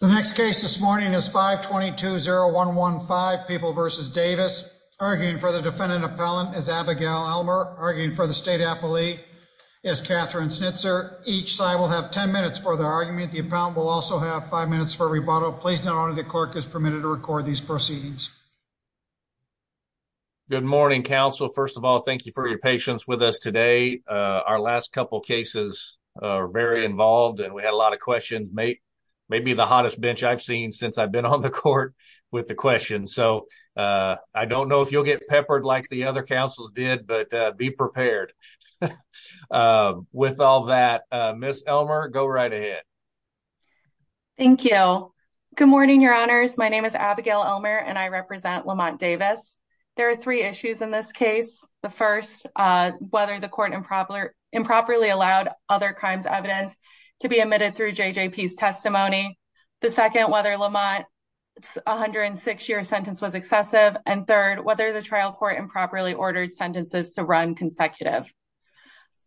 The next case this morning is 5 22 0 1 1 5 people versus Davis arguing for the defendant. Appellant is Abigail Elmer, arguing for the state. Appellee is Catherine Snitzer. Each side will have 10 minutes for the argument. The account will also have five minutes for rebuttal. Please don't order. The clerk is permitted to record these proceedings. Good morning, Council. First of all, thank you for your patience with us today. Our last couple cases very involved, and we had a lot of questions may maybe the hottest bench I've seen since I've been on the court with the question. So, uh, I don't know if you'll get peppered like the other councils did, but be prepared. Uh, with all that, Miss Elmer, go right ahead. Thank you. Good morning, Your Honors. My name is Abigail Elmer and I represent Lamont Davis. There are three issues in this case. The first whether the court improper improperly allowed other crimes evidence to be admitted through J. J. P. S. Testimony. The second whether Lamont 106 year sentence was excessive and third whether the trial court improperly ordered sentences to run consecutive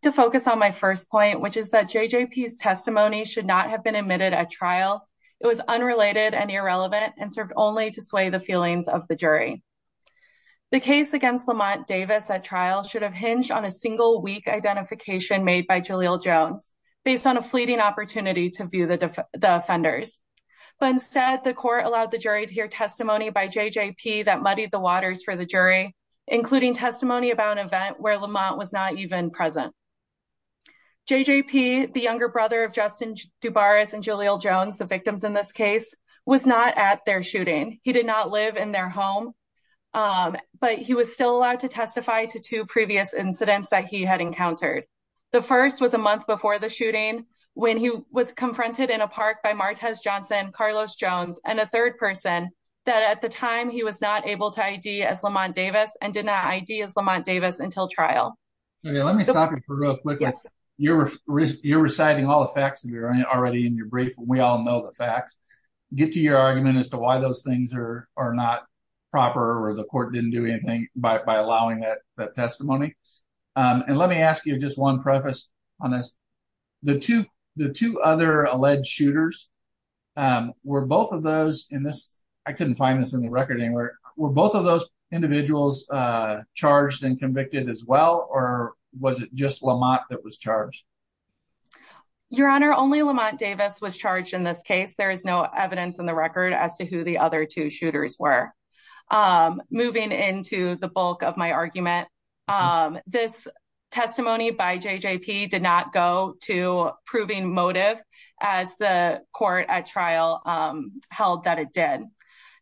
to focus on my first point, which is that J. J. P. S. Testimony should not have been admitted at trial. It was unrelated and irrelevant and served only to sway the feelings of the jury. The case against Lamont Davis at trial should have hinged on a single week identification made by Jalil Jones based on a fleeting opportunity to view the defenders. But instead, the court allowed the jury to hear testimony by J. J. P. That muddied the waters for the jury, including testimony about an event where Lamont was not even present. J. J. P. The younger brother of Justin Dubar is and Jalil Jones. The victims in this case was not at their shooting. He did not live in their home. Um, but he was still allowed to testify to two previous incidents that he had encountered. The first was a month before the shooting, when he was confronted in a park by Martez Johnson, Carlos Jones and a third person that at the time he was not able to ID as Lamont Davis and did not ideas Lamont Davis until trial. Let me stop it for real quick. You're reciting all the facts that you're already in your brief. We all know the facts get to your argument as to why those things are not proper or the court didn't do anything by let me ask you just one preface on this. The two the two other alleged shooters, um, were both of those in this. I couldn't find this in the record anywhere. Were both of those individuals charged and convicted as well? Or was it just Lamont that was charged? Your Honor, only Lamont Davis was charged in this case. There is no evidence in the record as to who the other two shooters were. Um, moving into the bulk of my argument. Um, this testimony by J. J. P. Did not go to proving motive as the court at trial held that it did.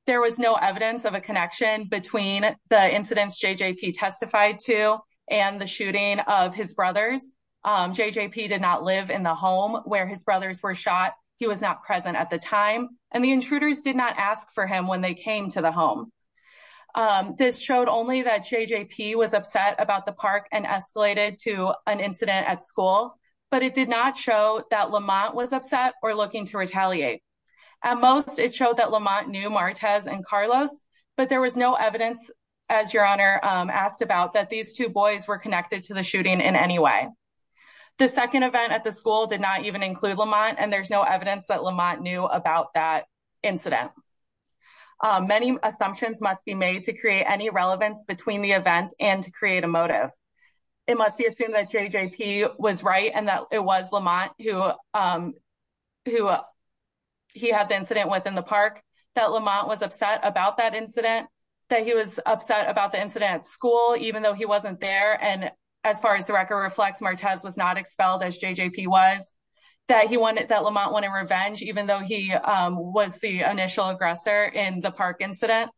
There was no evidence of a connection between the incidents J. J. P. Testified to and the shooting of his brothers. Um, J. J. P. Did not live in the home where his brothers were shot. He was not present at the time, and the intruders did not ask for him when they came to the home. Um, this showed only that J. J. P. Was upset about the park and escalated to an incident at school, but it did not show that Lamont was upset or looking to retaliate. At most, it showed that Lamont knew Martez and Carlos, but there was no evidence as your honor asked about that these two boys were connected to the shooting in any way. The second event at the school did not even include Lamont, and there's no many assumptions must be made to create any relevance between the events and to create a motive. It must be assumed that J. J. P. Was right and that it was Lamont who, um, who, uh, he had the incident within the park that Lamont was upset about that incident, that he was upset about the incident at school, even though he wasn't there. And as far as the record reflects, Martez was not expelled as J. J. P. Was that he wanted that Lamont went in revenge, even though he was the initial aggressor in the park incident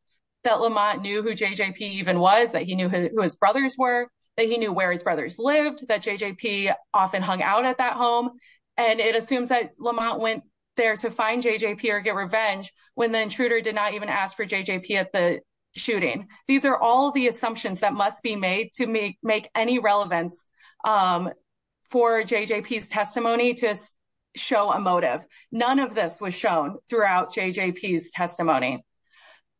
that Lamont knew who J. J. P. Even was that he knew who his brothers were, that he knew where his brothers lived, that J. J. P. Often hung out at that home, and it assumes that Lamont went there to find J. J. P. Or get revenge when the intruder did not even ask for J. J. P. At the shooting. These air all the assumptions that must be made to make make any relevance, um, for J. J. P. S. Testimony to show a was shown throughout J. J. P. S. Testimony.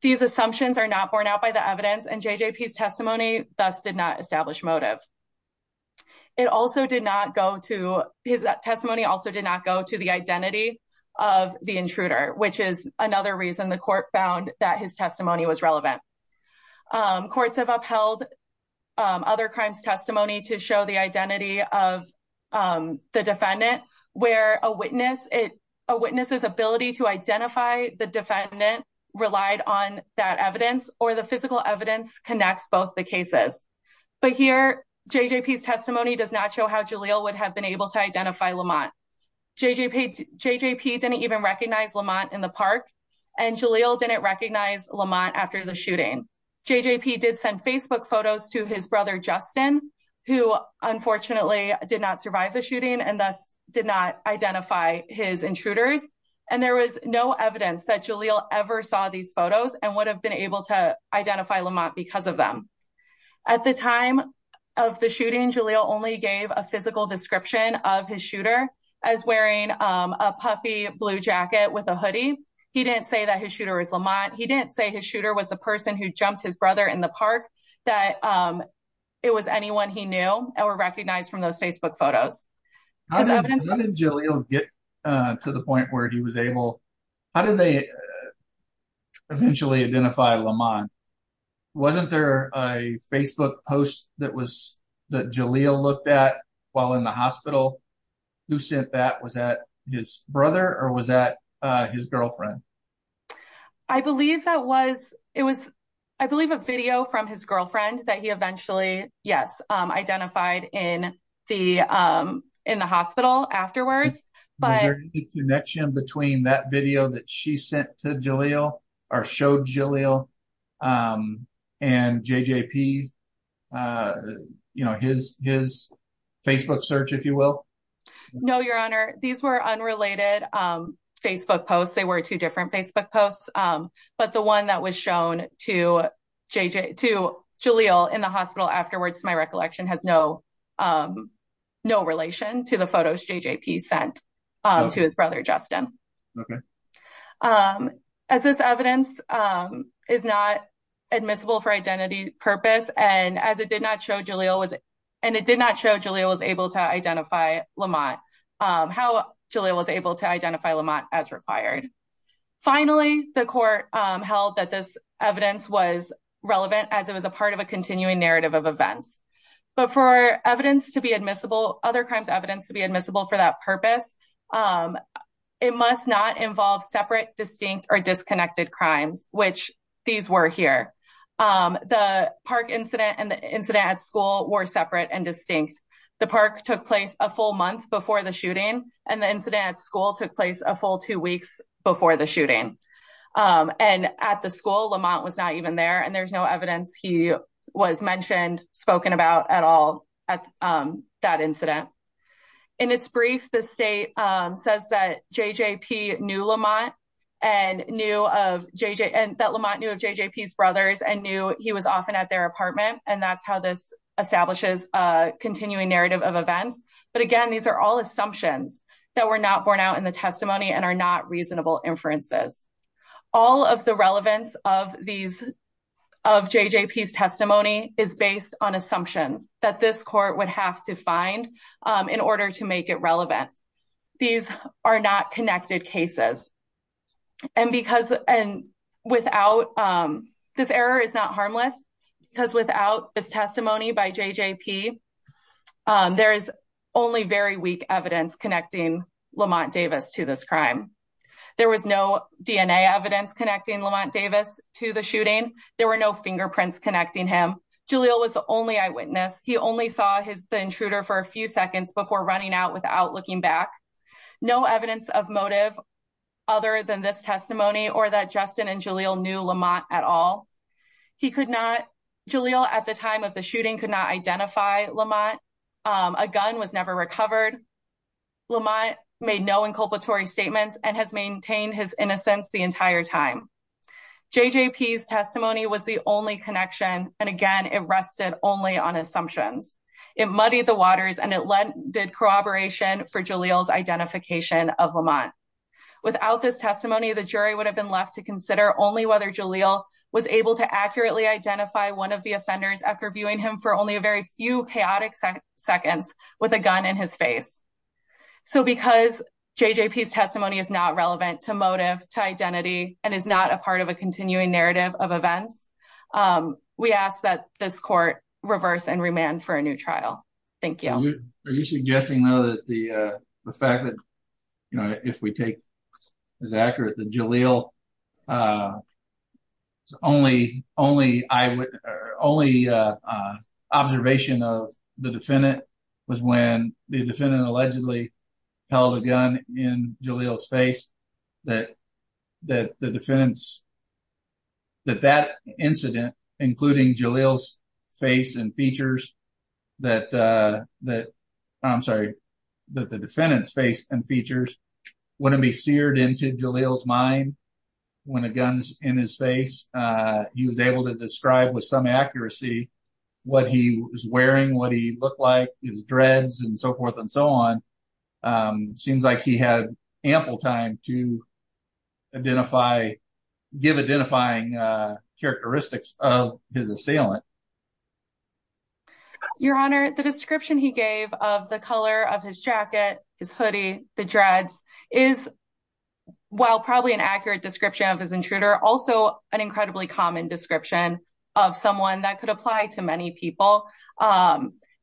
These assumptions are not borne out by the evidence, and J. J. P. S. Testimony thus did not establish motive. It also did not go to his testimony also did not go to the identity of the intruder, which is another reason the court found that his testimony was relevant. Um, courts have upheld other crimes testimony to show the identity of, um, the defendant where a witness it a witness's ability to identify the defendant relied on that evidence or the physical evidence connects both the cases. But here, J. J. P. S. Testimony does not show how Julia would have been able to identify Lamont. J. J. P. J. J. P. Didn't even recognize Lamont in the park, and Julia didn't recognize Lamont after the unfortunately did not survive the shooting and thus did not identify his intruders. And there was no evidence that Julia ever saw these photos and would have been able to identify Lamont because of them. At the time of the shooting, Julia only gave a physical description of his shooter as wearing a puffy blue jacket with a hoodie. He didn't say that his shooter is Lamont. He didn't say his shooter was the person who jumped his brother in the recognized from those Facebook photos. How did Julia get to the point where he was able? How did they eventually identify Lamont? Wasn't there a Facebook post that was that Julia looked at while in the hospital? Who sent that? Was that his brother? Or was that his girlfriend? I believe that was it was, I believe, a video from his girlfriend that he eventually, yes, identified in the, um, in the hospital afterwards. But the connection between that video that she sent to Jalil or showed Jalil, um, and J. J. P. Uh, you know, his his Facebook search, if you will. No, Your Honor. These were unrelated. Um, Facebook posts. They were two different Facebook posts. Um, but the one that was shown to JJ to Jalil in the hospital afterwards, my recollection has no, um, no relation to the photos J. J. P. Sent to his brother, Justin. Okay. Um, as this evidence, um, is not admissible for identity purpose and as it did not show Julia was and it did not show Julia was able to identify Lamont. Um, how Julia was able to identify Lamont as required. Finally, the court held that this evidence was relevant as it was a continuing narrative of events. But for evidence to be admissible, other crimes evidence to be admissible for that purpose. Um, it must not involve separate, distinct or disconnected crimes, which these were here. Um, the park incident and the incident at school were separate and distinct. The park took place a full month before the shooting and the incident at school took place a full two weeks before the shooting. Um, and at the school Lamont was not even there and there's no evidence he was mentioned spoken about at all at, um, that incident in its brief. The state says that J. J. P. Knew Lamont and knew of J. J. And that Lamont knew of J. J. P.'s brothers and knew he was often at their apartment. And that's how this establishes a continuing narrative of events. But again, these are all assumptions that were not born out in the testimony and are not reasonable inferences. All of the relevance of these of J. J. P.'s testimony is based on assumptions that this court would have to find, um, in order to make it relevant. These are not connected cases. And because and without, um, this error is not harmless because without this testimony by J. J. P. Um, there is only very weak evidence connecting Lamont Davis to this crime. There was no DNA evidence connecting Lamont Davis to the shooting. There were no fingerprints connecting him. Jalil was the only eyewitness. He only saw his intruder for a few seconds before running out without looking back. No evidence of motive other than this testimony or that Justin and Jalil knew Lamont at all. He could not. Jalil at the time of the shooting could not identify Lamont. A gun was never recovered. Lamont made no inculpatory statements and has J. J. P.'s testimony was the only connection. And again, it rested only on assumptions. It muddied the waters and it led did corroboration for Jalil's identification of Lamont. Without this testimony, the jury would have been left to consider only whether Jalil was able to accurately identify one of the offenders after viewing him for only a very few chaotic seconds with a gun in his face. So because J. J. P.'s testimony is not relevant to motive to not a part of a continuing narrative of events. Um, we ask that this court reverse and remand for a new trial. Thank you. Are you suggesting, though, that the fact that, you know, if we take is accurate, the Jalil, uh, only only I would only, uh, observation of the defendant was when the defendant allegedly held a gun in Jalil's face that that the defendants that that incident, including Jalil's face and features that that I'm sorry that the defendant's face and features wouldn't be seared into Jalil's mind when a gun is in his face. He was able to describe with some accuracy what he was wearing, what he looked like, his dreads and so forth and so on. Um, seems like he had ample time to identify give identifying characteristics of his assailant. Your Honor, the description he gave of the color of his jacket, his hoodie, the dreads is while probably an accurate description of his intruder, also an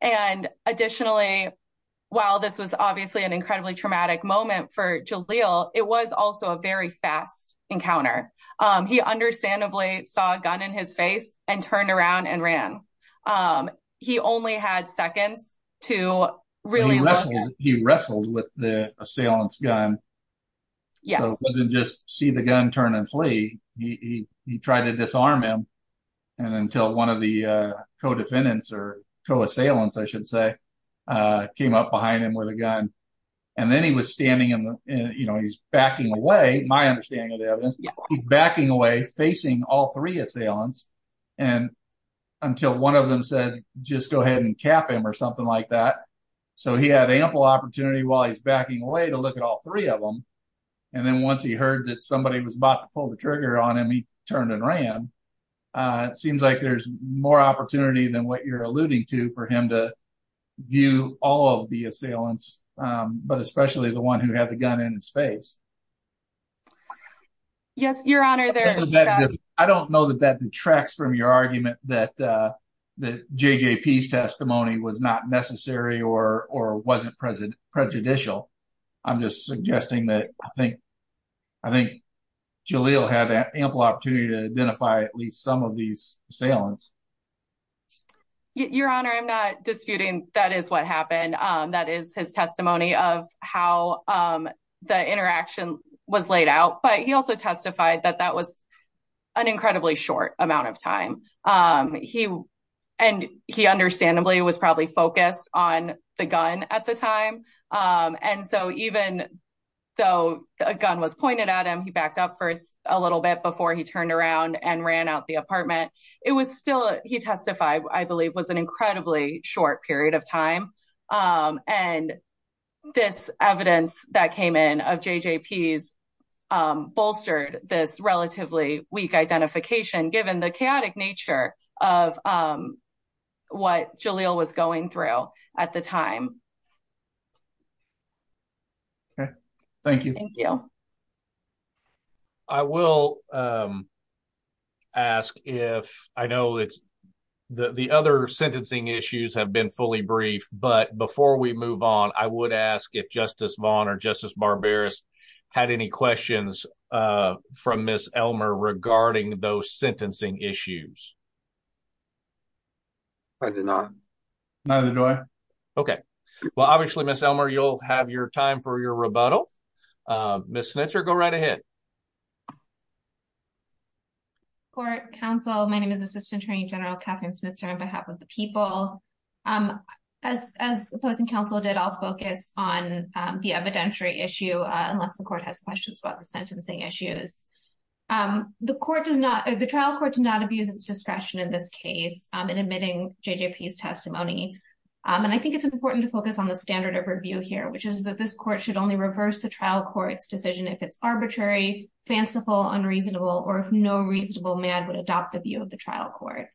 and additionally, while this was obviously an incredibly traumatic moment for Jalil, it was also a very fast encounter. Um, he understandably saw a gun in his face and turned around and ran. Um, he only had seconds to really. He wrestled with the assailant's gun. So it wasn't just see the gun turn and flee. He tried to disarm him. And until one of the co defendants or co assailants, I should say, came up behind him with a gun. And then he was standing in the you know, he's backing away. My understanding of the evidence, he's backing away facing all three assailants. And until one of them said, just go ahead and cap him or something like that. So he had ample opportunity while he's backing away to look at all three of them. And then once he heard that somebody was about to pull the trigger on him, he turned and ran. It seems like there's more opportunity than what you're alluding to for him to view all of the assailants, but especially the one who had the gun in his face. Yes, Your Honor. I don't know that that detracts from your argument that the J. J. P. S. Testimony was not necessary or or wasn't present prejudicial. I'm just suggesting that I think I think Jalil had ample opportunity to identify at least some of these assailants. Your Honor, I'm not disputing that is what happened. That is his testimony of how the interaction was laid out. But he also testified that that was an incredibly short amount of time. He and he understandably was probably focused on the gun at the time. And so even though a gun was pointed at him, he backed up for a little bit before he turned around and ran out the apartment. It was still he testified, I believe, was an incredibly short period of time. And this evidence that came in of J. J. P.'s bolstered this relatively weak identification, given the chaotic nature of what Jalil was going through at the time. Okay, thank you. Thank you. I will ask if I know it's the other sentencing issues have been fully briefed. But before we move on, I would ask if Justice Vaughn or Justice Barberis had any questions from Miss Elmer regarding those sentencing issues. I did not. Neither do I. Okay, well, obviously, Miss Elmer, you'll have your time for your rebuttal. Miss Snitzer, go right ahead. Court, counsel, my name is Assistant Attorney General Katherine Snitzer on behalf of the people. As opposing counsel did all focus on the evidentiary issue, unless the court has questions about the sentencing issues. The trial court does not abuse its discretion in this case in admitting J. J. P.'s testimony. And I think it's important to focus on the standard of review here, which is that this court should only reverse the trial court's decision if it's arbitrary, fanciful, unreasonable, or if no reasonable man would adopt the view of the trial court.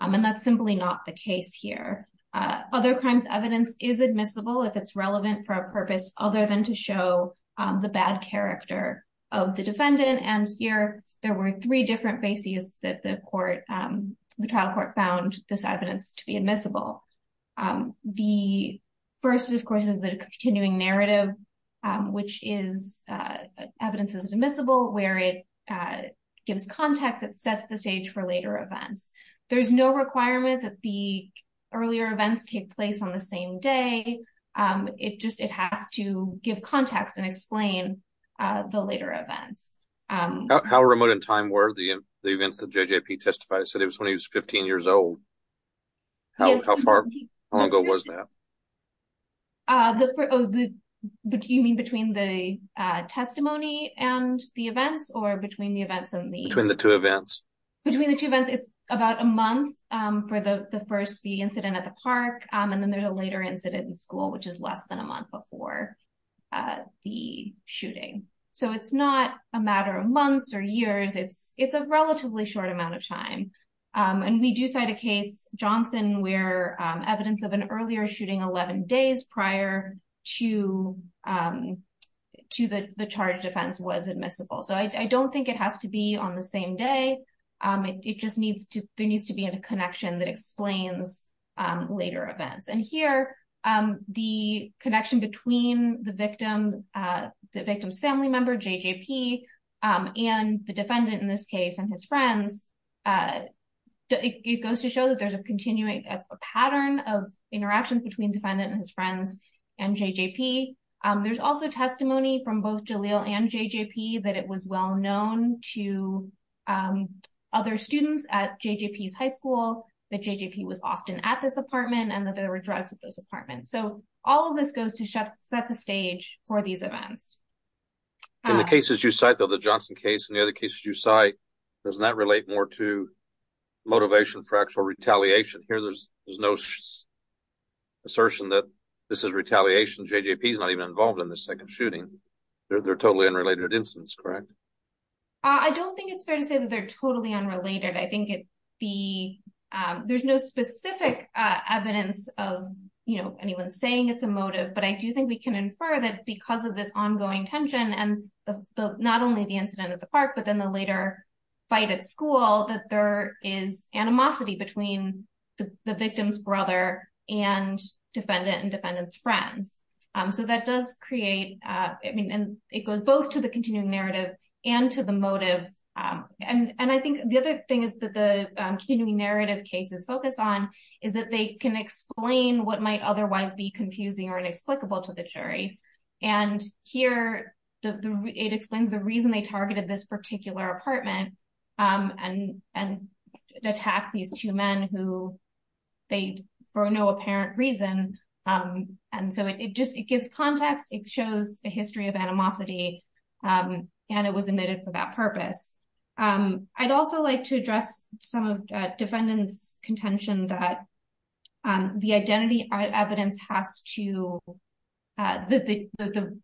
And that's simply not the case here. Other crimes evidence is admissible if it's relevant for a of the defendant. And here, there were three different bases that the trial court found this evidence to be admissible. The first, of course, is the continuing narrative, which is evidence is admissible where it gives context, it sets the stage for later events. There's no requirement that the earlier events take place on the same day. It just it has to give context and explain the later events. How remote in time were the events that J. J. P. testified? He said it was when he was 15 years old. How far, how long ago was that? You mean between the testimony and the events or between the events and the... Between the two events. Between the two events, it's about a month for the first the incident at the park. And then there's a later incident in school, which is less than a month before. The shooting, so it's not a matter of months or years, it's a relatively short amount of time. And we do cite a case, Johnson, where evidence of an earlier shooting 11 days prior to to the charge defense was admissible. So I don't think it has to be on the same day. It just needs to there needs to be a connection that explains later events. And here, the connection between the victim, the victim's family member, J. J. P., and the defendant in this case and his friends, it goes to show that there's a continuing pattern of interactions between defendant and his friends and J. J. P. There's also testimony from both Jalil and J. J. P. that it was well known to other students at J. J. P.'s high school that J. J. P. was often at this apartment and that there were drugs at this apartment. So all of this goes to set the stage for these events. In the cases you cite, though, the Johnson case and the other cases you cite, doesn't that relate more to motivation for actual retaliation? Here, there's no assertion that this is retaliation. J. J. P. is not even involved in the second shooting. They're totally unrelated incidents, correct? I don't think it's fair to say that they're specific evidence of anyone saying it's a motive, but I do think we can infer that because of this ongoing tension and not only the incident at the park, but then the later fight at school, that there is animosity between the victim's brother and defendant and defendant's friends. So that does create, I mean, and it goes both to the continuing narrative and to the motive. And I think the other thing is that the continuing narrative cases focus on is that they can explain what might otherwise be confusing or inexplicable to the jury. And here, it explains the reason they targeted this particular apartment and attacked these two men who they, for no apparent reason. And so it just, it gives context. It shows a history of I'd also like to address some of defendant's contention that the identity evidence has to, that the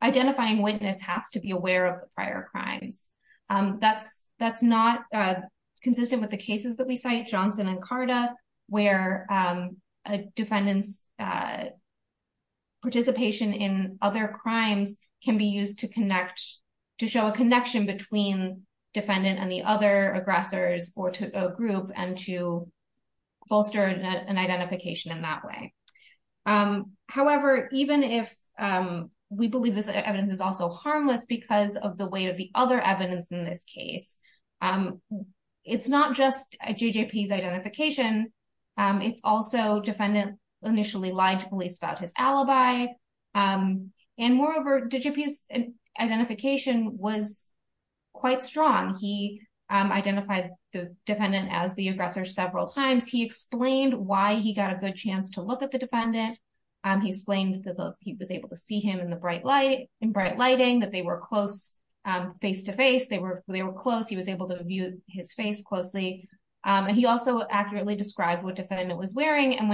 identifying witness has to be aware of prior crimes. That's not consistent with the cases that we cite, Johnson and Carta, where a defendant's participation in other crimes can be used to connect, to show a connection between defendant and the other aggressors or to a group and to bolster an identification in that way. However, even if we believe this evidence is also harmless because of the weight of the other evidence in this case, it's not just JJP's identification. It's also defendant initially lied to police about his identification was quite strong. He identified the defendant as the aggressor several times. He explained why he got a good chance to look at the defendant. He explained that he was able to see him in the bright light, in bright lighting, that they were close face to face. They were close. He was able to view his face closely. And he also accurately described what defendant was wearing. And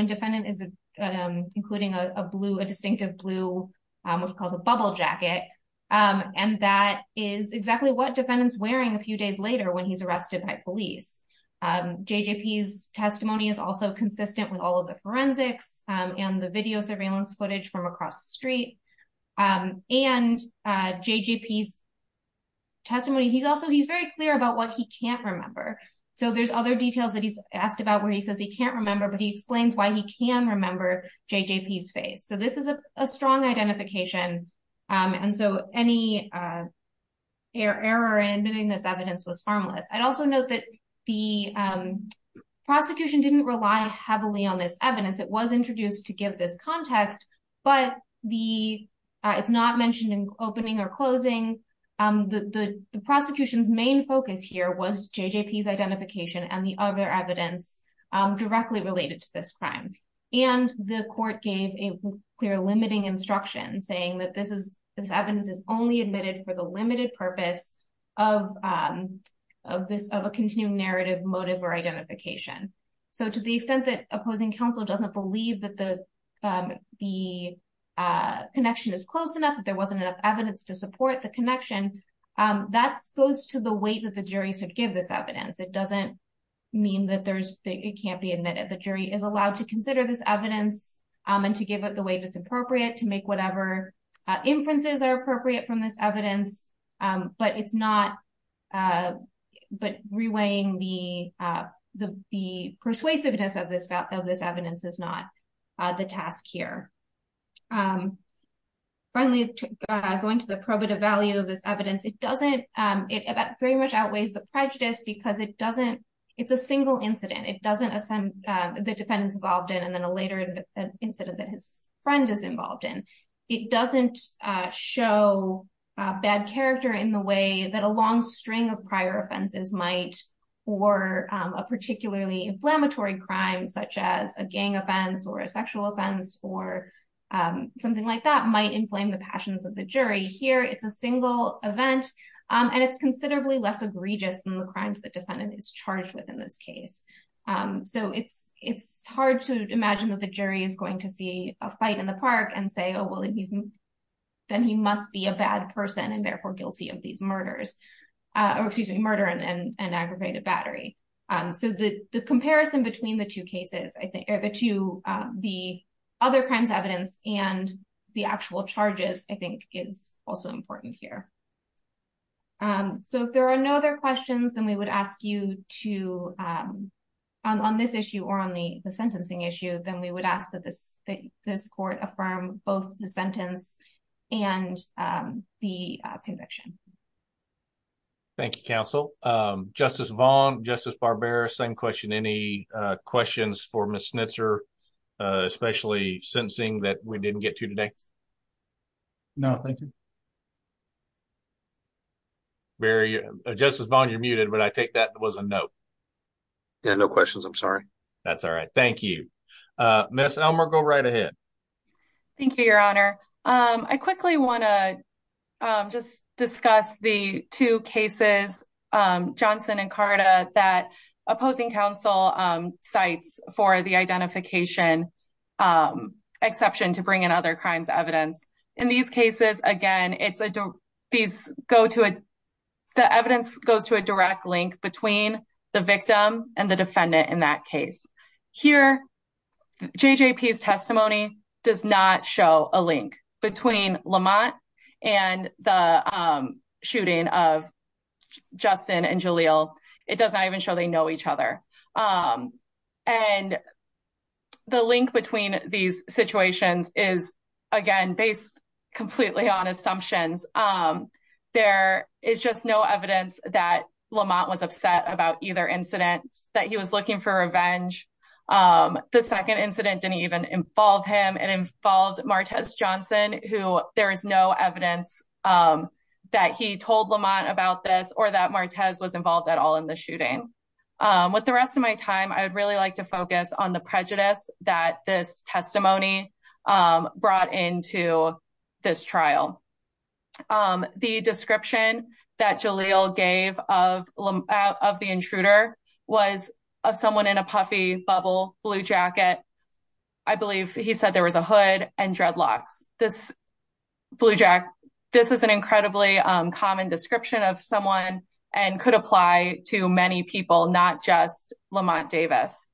that is exactly what defendant's wearing a few days later when he's arrested by police. JJP's testimony is also consistent with all of the forensics and the video surveillance footage from across the street. And JJP's testimony, he's also, he's very clear about what he can't remember. So there's other details that he's asked about where he says he can't remember, but he explains why he can remember JJP's face. So this is a strong identification and so any error in admitting this evidence was harmless. I'd also note that the prosecution didn't rely heavily on this evidence. It was introduced to give this context, but it's not mentioned in opening or closing. The prosecution's main focus here was JJP's identification and the other evidence directly related to this crime. And the court gave a clear limiting instruction saying that this evidence is only admitted for the limited purpose of a continuing narrative motive or identification. So to the extent that opposing counsel doesn't believe that the connection is close enough, that there wasn't enough evidence to support the connection, that goes to the weight that the jury should give this evidence. It doesn't mean that it can't be admitted. The jury is allowed to consider this evidence and to give it the weight that's appropriate to make whatever inferences are appropriate from this evidence, but it's not, but reweighing the persuasiveness of this evidence is not the task here. Finally, going to the probative value of this evidence, it doesn't, it very much outweighs the prejudice because it doesn't, it's a single incident. It doesn't, the defendants involved in a later incident that his friend is involved in, it doesn't show bad character in the way that a long string of prior offenses might, or a particularly inflammatory crime such as a gang offense or a sexual offense or something like that might inflame the passions of the jury. Here it's a single event and it's considerably less egregious than the crimes that defendant is charged with in this case. It's hard to imagine that the jury is going to see a fight in the park and say, oh, well, then he must be a bad person and therefore guilty of these murders, or excuse me, murder and aggravated battery. The comparison between the two cases, the other crimes evidence and the actual charges, I think is also important here. So if there are no other questions, then we would ask you to, on this issue or on the sentencing issue, then we would ask that this court affirm both the sentence and the conviction. Thank you, counsel. Justice Vaughn, Justice Barbera, same question. Any questions for Ms. Snitzer, especially sentencing that we didn't get to today? No, thank you. Justice Vaughn, you're muted, but I take that was a note. Yeah, no questions. I'm sorry. That's all right. Thank you. Ms. Elmer, go right ahead. Thank you, your honor. I quickly want to just discuss the two cases, Johnson and Carta, that opposing counsel cites for the identification exception to bring in other crimes evidence. In these cases, again, the evidence goes to a direct link between the victim and the defendant in that case. Here, JJP's testimony does not show a link between Lamont and the shooting of Justin and Jaleel. It does not even show they know each other. And the link between these situations is, again, based completely on assumptions. There is just no evidence that Lamont was upset about either incident, that he was looking for revenge. The second incident didn't even involve him. It involved Martez Johnson, who there is no evidence that he told Lamont about this or that Martez was involved at all in the shooting. With the rest of my time, I would really like to focus on the prejudice that this testimony brought into this trial. The description that Jaleel gave of the intruder was of someone in a puffy bubble, blue jacket. I believe he said there was a hood and dreadlocks. This blue jacket, this is an incredibly common description of someone and could apply to many people, not just Lamont Davis.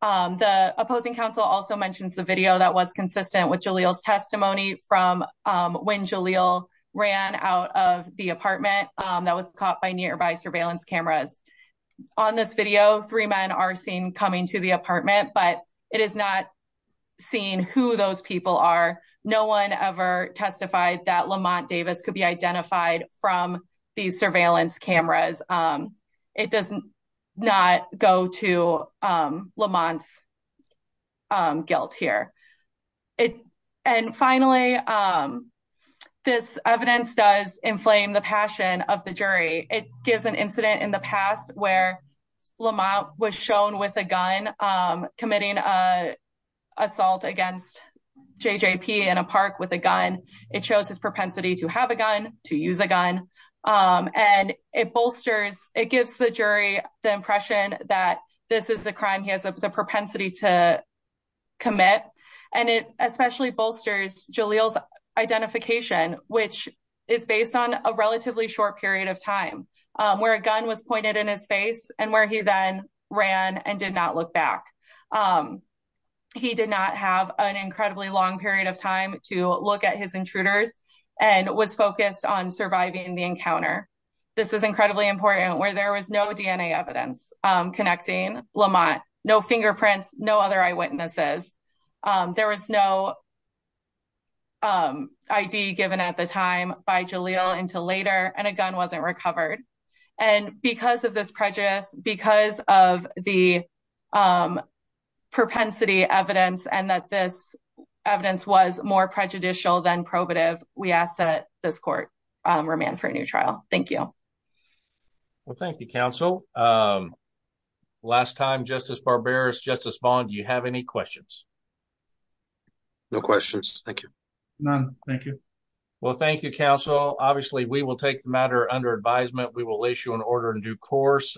The opposing counsel also mentions the video that was consistent with Jaleel's testimony from when Jaleel ran out of the apartment that was caught by nearby surveillance cameras. On this video, three men are seen coming to the apartment, but it is not seen who those people are. No one ever testified that Lamont Davis could be identified from these surveillance cameras. It does not go to Lamont's guilt here. Finally, this evidence does inflame the passion of the jury. It gives an incident in the past where Lamont was shown with a gun committing assault against JJP in a park with a gun. It shows his propensity to have a gun, to use a gun. It gives the jury the impression that this is a crime he has the propensity to commit. It especially bolsters Jaleel's identification, which is based on a relatively short period of time where a gun was pointed in his face and where he then ran and did not look back. He did not have an incredibly long period of time to look at his intruders and was focused on surviving the encounter. This is incredibly important where there was no DNA evidence connecting Lamont, no fingerprints, no other eyewitnesses. There was no ID given at the time by Jaleel until later and a gun wasn't recovered. Because of this prejudice, because of the propensity evidence and that this evidence was more prejudicial than probative, we ask that this court remand for a new trial. Thank you. Well, thank you, counsel. Last time, Justice Barberis, Justice Vaughn, do you have any questions? No questions. Thank you. None. Thank you. Well, thank you, counsel. Obviously, we will take the matter under advisement. We will issue an order in due course.